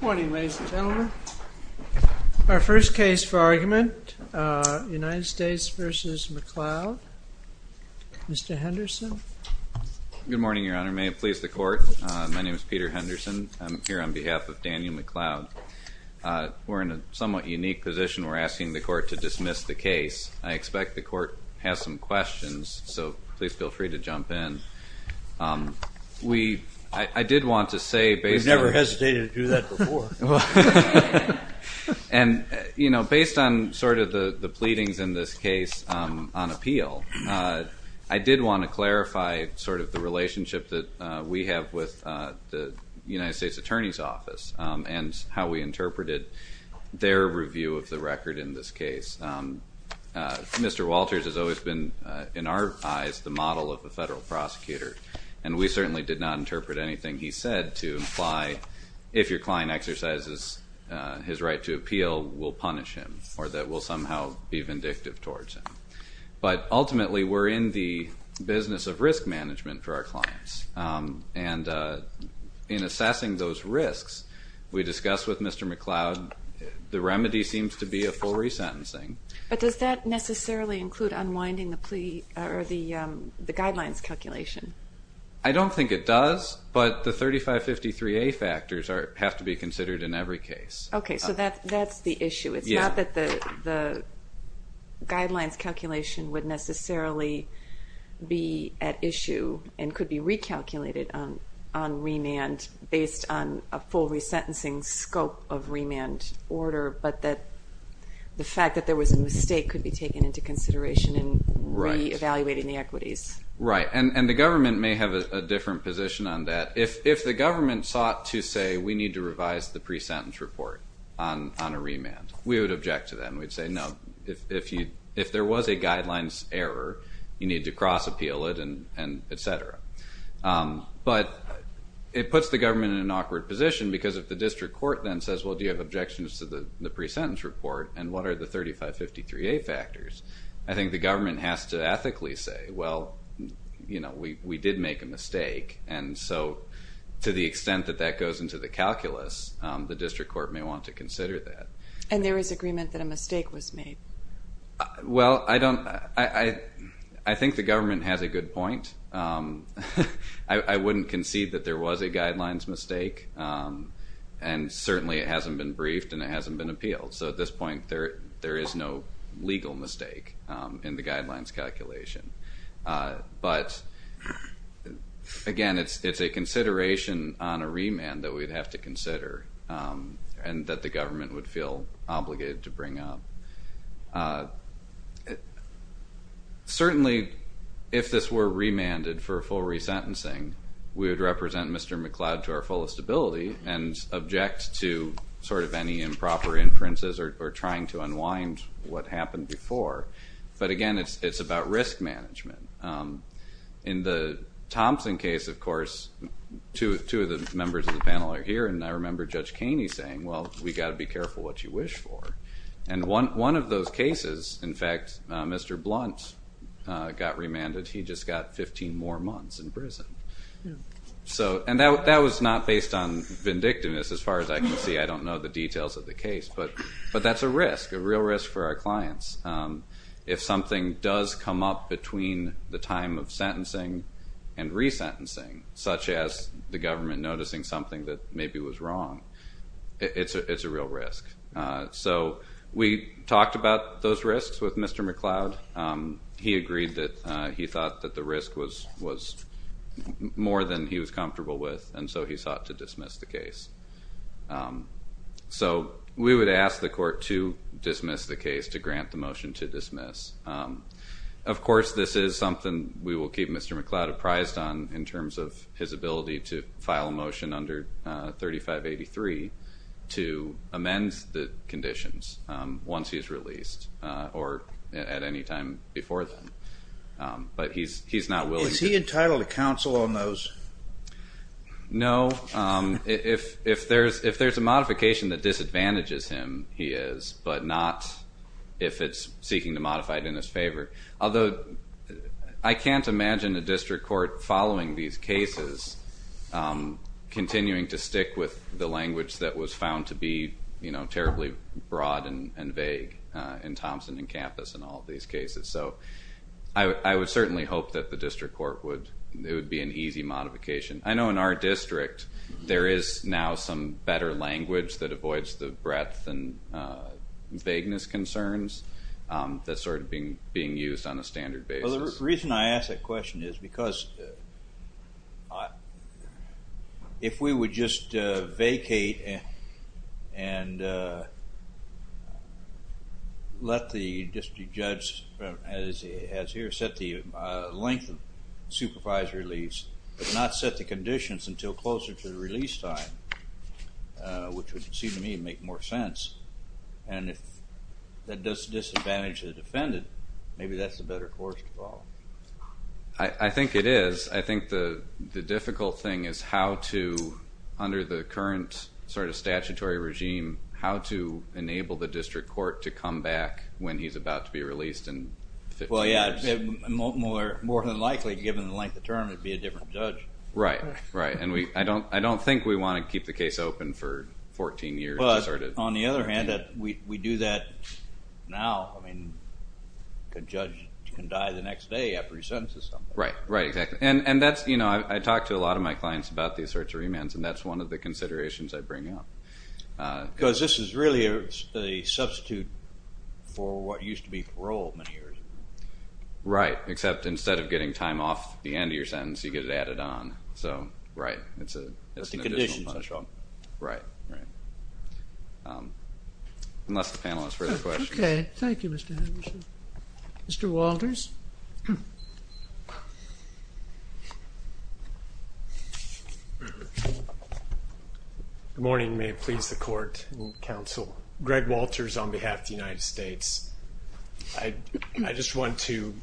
Morning, ladies and gentlemen. Our first case for argument, United States v. McLeod. Mr. Henderson. Good morning, Your Honor. May it please the Court. My name is Peter Henderson. I'm here on behalf of Daniel McLeod. We're in a somewhat unique position. We're asking the Court to dismiss the case. I expect the Court has some questions, so please feel free to jump in. I did want to say, based on- I've heard that before. And based on sort of the pleadings in this case on appeal, I did want to clarify sort of the relationship that we have with the United States Attorney's Office and how we interpreted their review of the record in this case. Mr. Walters has always been, in our eyes, the model of a federal prosecutor, and we his right to appeal will punish him or that we'll somehow be vindictive towards him. But ultimately, we're in the business of risk management for our clients, and in assessing those risks, we discussed with Mr. McLeod, the remedy seems to be a full resentencing. But does that necessarily include unwinding the plea or the guidelines calculation? I don't think it does, but the 3553A factors have to be considered in every case. Okay. So that's the issue. It's not that the guidelines calculation would necessarily be at issue and could be recalculated on remand based on a full resentencing scope of remand order, but that the fact that there was a mistake could be taken into consideration in re-evaluating the equities. Right. And the government may have a different position on that. If the government sought to say, we need to revise the pre-sentence report on a remand, we would object to that, and we'd say, no, if there was a guidelines error, you need to cross-appeal it, and et cetera. But it puts the government in an awkward position because if the district court then says, well, do you have objections to the pre-sentence report, and what are the 3553A factors? I think the government has to ethically say, well, you know, we did make a mistake, and so to the extent that that goes into the calculus, the district court may want to consider that. And there is agreement that a mistake was made. Well, I don't, I think the government has a good point. I wouldn't concede that there was a guidelines mistake, and certainly it hasn't been briefed and it hasn't been appealed. So at this point, there is no legal mistake in the guidelines calculation. But again, it's a consideration on a remand that we'd have to consider and that the government would feel obligated to bring up. Certainly if this were remanded for full resentencing, we would represent Mr. McCloud to our fullest ability and object to sort of any improper inferences or trying to unwind what happened before. But again, it's about risk management. In the Thompson case, of course, two of the members of the panel are here, and I remember Judge Kaney saying, well, we've got to be careful what you wish for. And one of those cases, in fact, Mr. Blunt got remanded. He just got 15 more months in prison. And that was not based on vindictiveness, as far as I can see. I don't know the details of the case, but that's a risk, a real risk for our clients. If something does come up between the time of sentencing and resentencing, such as the government noticing something that maybe was wrong, it's a real risk. So we talked about those risks with Mr. McCloud. He agreed that he thought that the risk was more than he was comfortable with, and so he sought to dismiss the case. So we would ask the court to dismiss the case, to grant the motion to dismiss. Of course, this is something we will keep Mr. McCloud apprised on in terms of his ability to file a motion under 3583 to amend the conditions once he's released or at any time before then. But he's not willing... Is he entitled to counsel on those? No. If there's a modification that disadvantages him, he is, but not if it's seeking to modify it in his favor. Although, I can't imagine a district court following these cases, continuing to stick with the language that was found to be terribly broad and vague in Thompson and Kampus and all of these cases. So I would certainly hope that the district court would... it would be an easy modification. I know in our district, there is now some better language that avoids the breadth and being used on a standard basis. Well, the reason I ask that question is because if we would just vacate and let the district judge, as he has here, set the length of supervised release, but not set the conditions until closer to the release time, which would seem to me to make more sense, and if that does disadvantage the defendant, maybe that's the better course to follow. I think it is. I think the difficult thing is how to, under the current sort of statutory regime, how to enable the district court to come back when he's about to be released in 15 years. Well, yeah. More than likely, given the length of term, it would be a different judge. Right. Right. And I don't think we want to keep the case open for 14 years. But on the other hand, we do that now. I mean, a judge can die the next day after he sentences someone. Right. Right. Exactly. And that's... I talk to a lot of my clients about these sorts of remands, and that's one of the considerations I bring up. Because this is really a substitute for what used to be parole many years ago. Right. Except instead of getting time off the end of your sentence, you get it added on. So, right. It's an additional... It's the conditions that are strong. Right. Right. Unless the panel has further questions. Okay. Thank you, Mr. Anderson. Mr. Walters? Good morning. May it please the Court and counsel. Greg Walters on behalf of the United States. I just want to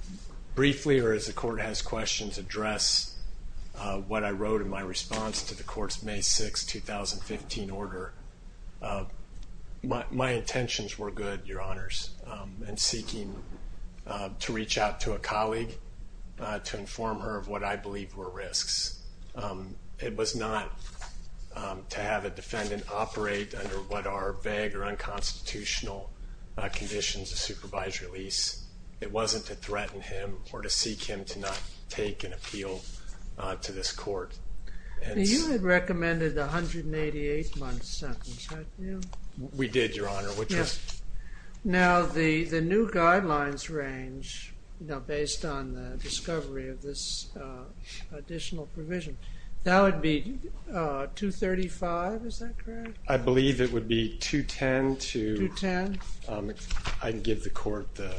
briefly, or as the Court has questions, address what I wrote in my response to the Court's May 6, 2015 order. My intentions were good, Your Honors, in seeking to reach out to a colleague to inform her of what I believe were risks. It was not to have a defendant operate under what are vague or unconstitutional conditions of supervisory release. It wasn't to threaten him or to seek him to not take an appeal to this Court. You had recommended a 188-month sentence, hadn't you? We did, Your Honor, which was... Yes. Now, the new guidelines range, based on the discovery of this additional provision, that would be 235, is that correct? I believe it would be 210 to... 210? I can give the Court the...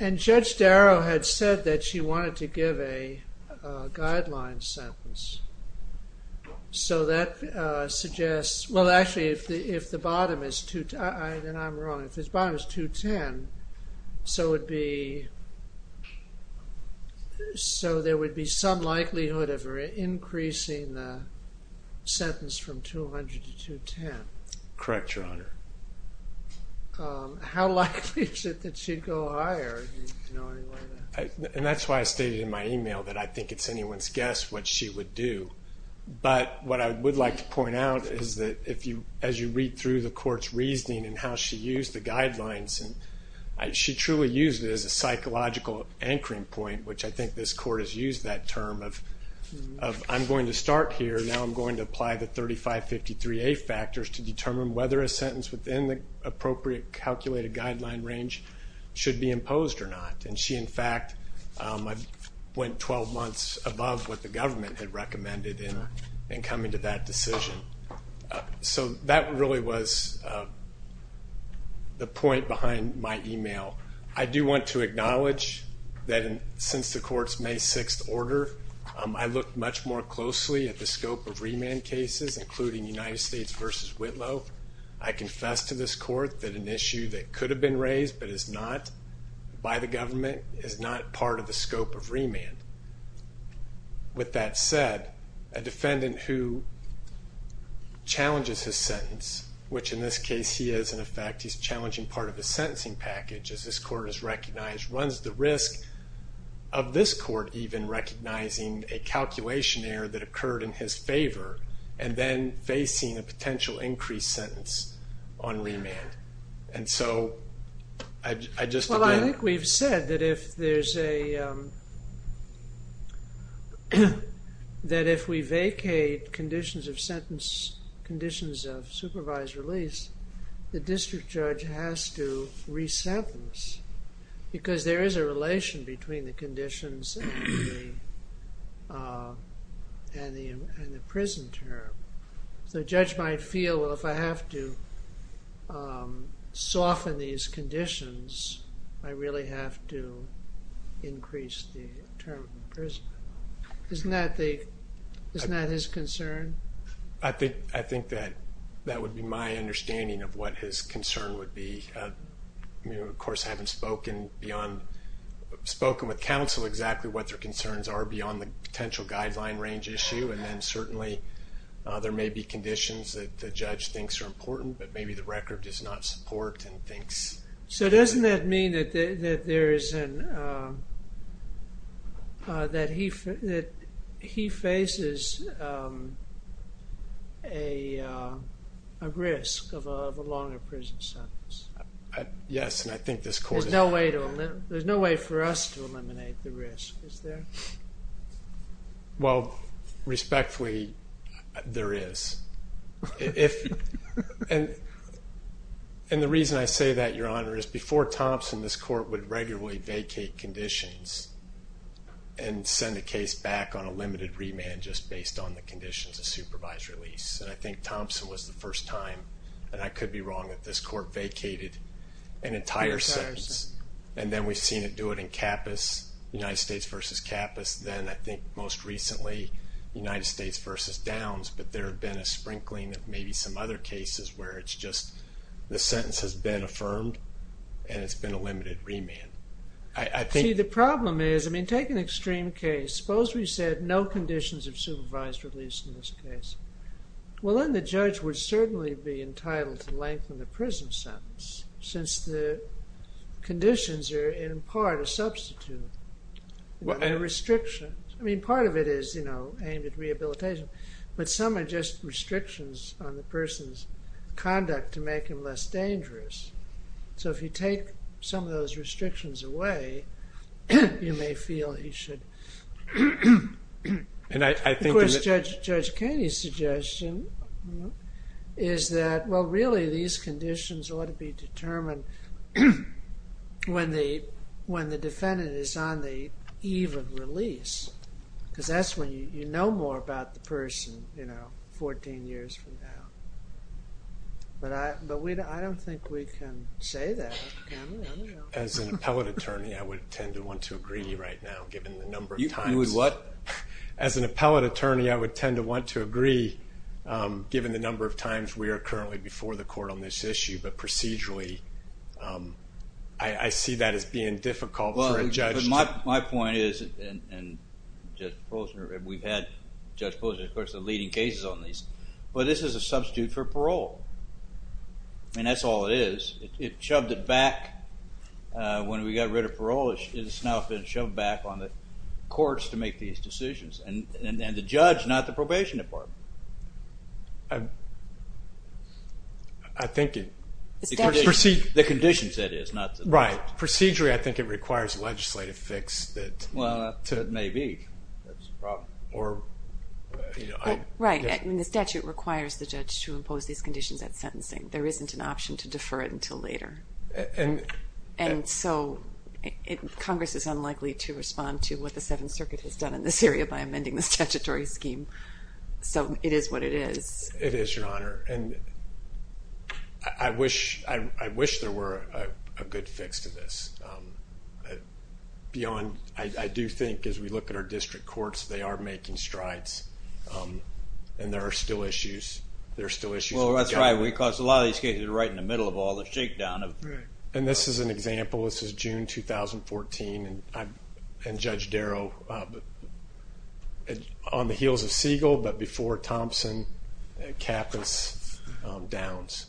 And Judge Darrow had said that she wanted to give a guideline sentence. So that suggests... well, actually, if the bottom is... then I'm wrong. If the bottom is 210, so it would be... so there would be some likelihood of her increasing the sentence from 200 to 210. Correct, Your Honor. How likely is it that she'd go higher? And that's why I stated in my email that I think it's anyone's guess what she would do. But what I would like to point out is that, as you read through the Court's reasoning and how she used the guidelines, she truly used it as a psychological anchoring point, which I think this Court has used that term of, I'm going to start here, now I'm going to apply the 3553A factors to determine whether a sentence within the appropriate calculated guideline range should be imposed or not. And she, in fact, went 12 months above what the government had recommended in coming to that decision. So that really was the point behind my email. I do want to acknowledge that since the Court's May 6th order, I looked much more closely at the scope of remand cases, including United States v. Whitlow. I confess to this Court that an issue that could have been raised but is not by the government is not part of the scope of remand. With that said, a defendant who challenges his sentence, which in this case he is, in effect, he's challenging part of his sentencing package, as this Court has recognized, runs the risk of this Court even recognizing a calculation error that occurred in his favor and then facing a potential increased sentence on remand. And so, I just... Well, I think we've said that if there's a... that if we vacate conditions of sentence, conditions of supervised release, the district judge has to resentence. Because there is a relation between the conditions and the prison term. So the judge might feel, well, if I have to soften these conditions, I really have to increase the term of imprisonment. Isn't that the... isn't that his concern? I think that would be my understanding of what his concern would be. Of course, I haven't spoken beyond... spoken with counsel exactly what their concerns are beyond the potential guideline range issue. And then certainly, there may be conditions that the judge thinks are important, but maybe the record does not support and thinks... So doesn't that mean that there is an... that he faces a risk of a longer prison sentence? Yes, and I think this Court... There's no way for us to eliminate the risk, is there? Well, respectfully, there is. And the reason I say that, Your Honor, is before Thompson, this Court would regularly vacate conditions and send a case back on a limited remand just based on the conditions of supervised release. And I think Thompson was the first time, and I could be wrong, that this Court vacated an entire sentence. And then we've seen it do it in Capas, United States versus Capas. Then, I think, most recently, United States versus Downs, but there have been a sprinkling of maybe some other cases where it's just the sentence has been affirmed and it's been a limited remand. See, the problem is, I mean, take an extreme case. Suppose we said no conditions of supervised release in this case. Well, then the judge would certainly be entitled to lengthen the prison sentence since the conditions are, in part, a substitute. There are restrictions. I mean, part of it is, you know, aimed at rehabilitation, but some are just restrictions on the person's conduct to make him less dangerous. So if you take some of those restrictions away, you may feel he should. Of course, Judge Caney's suggestion is that, well, really, these conditions ought to be on the eve of release, because that's when you know more about the person, you know, 14 years from now. But I don't think we can say that, can we? I don't know. As an appellate attorney, I would tend to want to agree right now, given the number of times... You would what? As an appellate attorney, I would tend to want to agree, given the number of times we are currently before the Court on this issue, but procedurally, I see that as being difficult for a judge to... Well, my point is, and Judge Posner, we've had Judge Posner, of course, the leading cases on these, but this is a substitute for parole. I mean, that's all it is. It shoved it back when we got rid of parole. It's now been shoved back on the courts to make these decisions, and the judge, not the probation department. I think it... The conditions, that is, not the... Right. Procedurally, I think it requires a legislative fix that... Well, it may be. That's a problem. Or... Right. And the statute requires the judge to impose these conditions at sentencing. There isn't an option to defer it until later. And... And so, Congress is unlikely to respond to what the Seventh Circuit has done in this area by amending the statutory scheme. So, it is what it is. It is, Your Honor. And I wish there were a good fix to this. Beyond... I do think, as we look at our district courts, they are making strides, and there are still issues. There are still issues. Well, that's right. Because a lot of these cases are right in the middle of all the shakedown of... Right. And this is an example. This is June, 2014, and Judge Darrow, on the heels of Siegel, but before Thompson, and Kappas, Downs...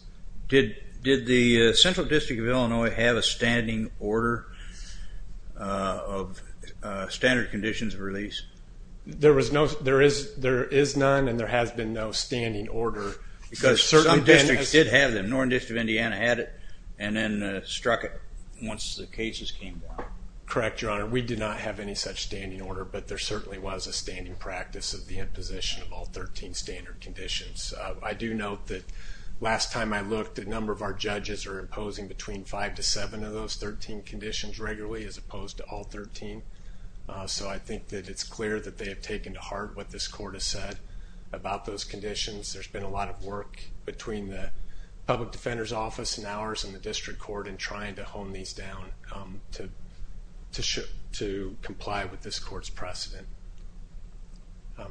Did the Central District of Illinois have a standing order of standard conditions of release? There is none, and there has been no standing order. Because some districts did have them. Northern District of Indiana had it, and then struck it once the cases came down. Correct, Your Honor. We did not have any such standing order, but there certainly was a standing practice of the imposition of all 13 standard conditions. I do note that last time I looked, a number of our judges are imposing between five to seven of those 13 conditions regularly, as opposed to all 13. So I think that it's clear that they have taken to heart what this court has said about those conditions. There's been a lot of work between the Public Defender's Office and ours, and the District Court, in trying to hone these down to comply with this court's precedent.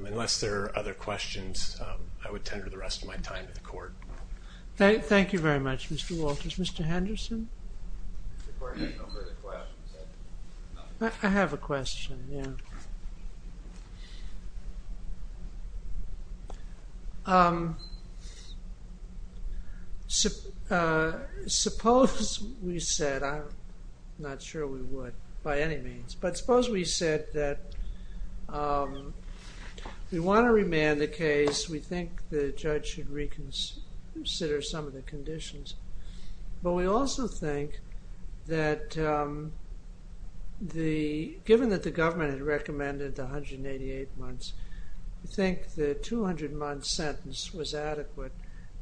Unless there are other questions, I would tender the rest of my time to the court. Thank you very much, Mr. Walters. Mr. Henderson? The court has no further questions. I have a question, yeah. Suppose we said, I'm not sure we would by any means, but suppose we said that we want to remand the case, we think the judge should reconsider some of the conditions. But we also think that, given that the government had recommended the 188 months, we think the 200-month sentence was adequate.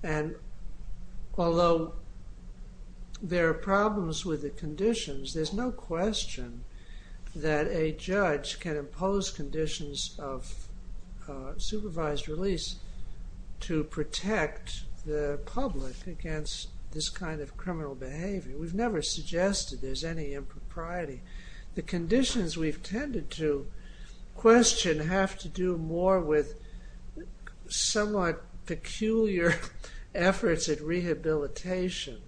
And although there are problems with the conditions, there's no question that a judge can impose conditions of supervised release to protect the public against this kind of criminal behavior. We've never suggested there's any impropriety. The conditions we've tended to question have to do more with somewhat peculiar efforts at rehabilitation.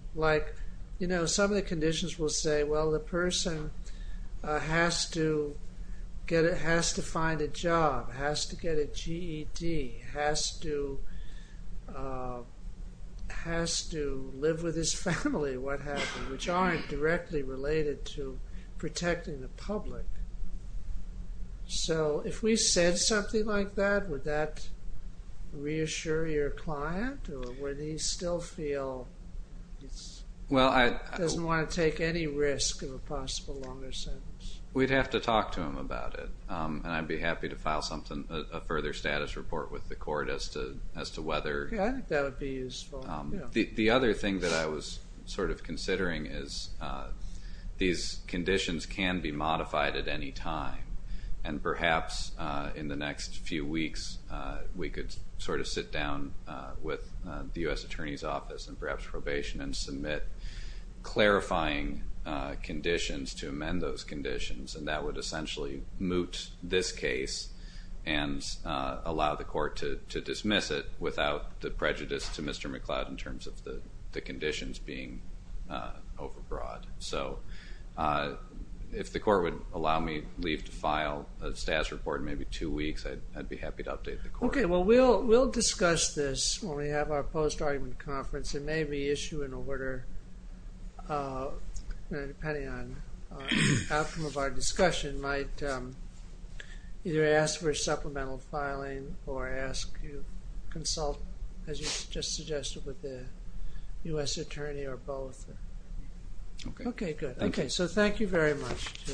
You know, some of the conditions will say, well, the person has to find a job, has to get a GED, has to live with his family, what have you, which aren't directly related to protecting the public. So if we said something like that, would that reassure your client? Or would he still feel he doesn't want to take any risk of a possible longer sentence? We'd have to talk to him about it. And I'd be happy to file a further status report with the court as to whether... Yeah, I think that would be useful. The other thing that I was sort of considering is these conditions can be modified at any time. And perhaps in the next few weeks, we could sort of sit down with the U.S. Attorney's Office and perhaps probation and submit clarifying conditions to amend those conditions. And that would essentially moot this case and allow the court to dismiss it without the prejudice to Mr. McLeod in terms of the conditions being overbroad. So if the court would allow me to leave to file a status report in maybe two weeks, I'd be happy to update the court. Okay. Well, we'll discuss this when we have our post-argument conference. It may be issued in order, depending on outcome of our discussion, might either ask for supplemental as you just suggested with the U.S. Attorney or both. Okay. Okay, good. Okay. So thank you very much.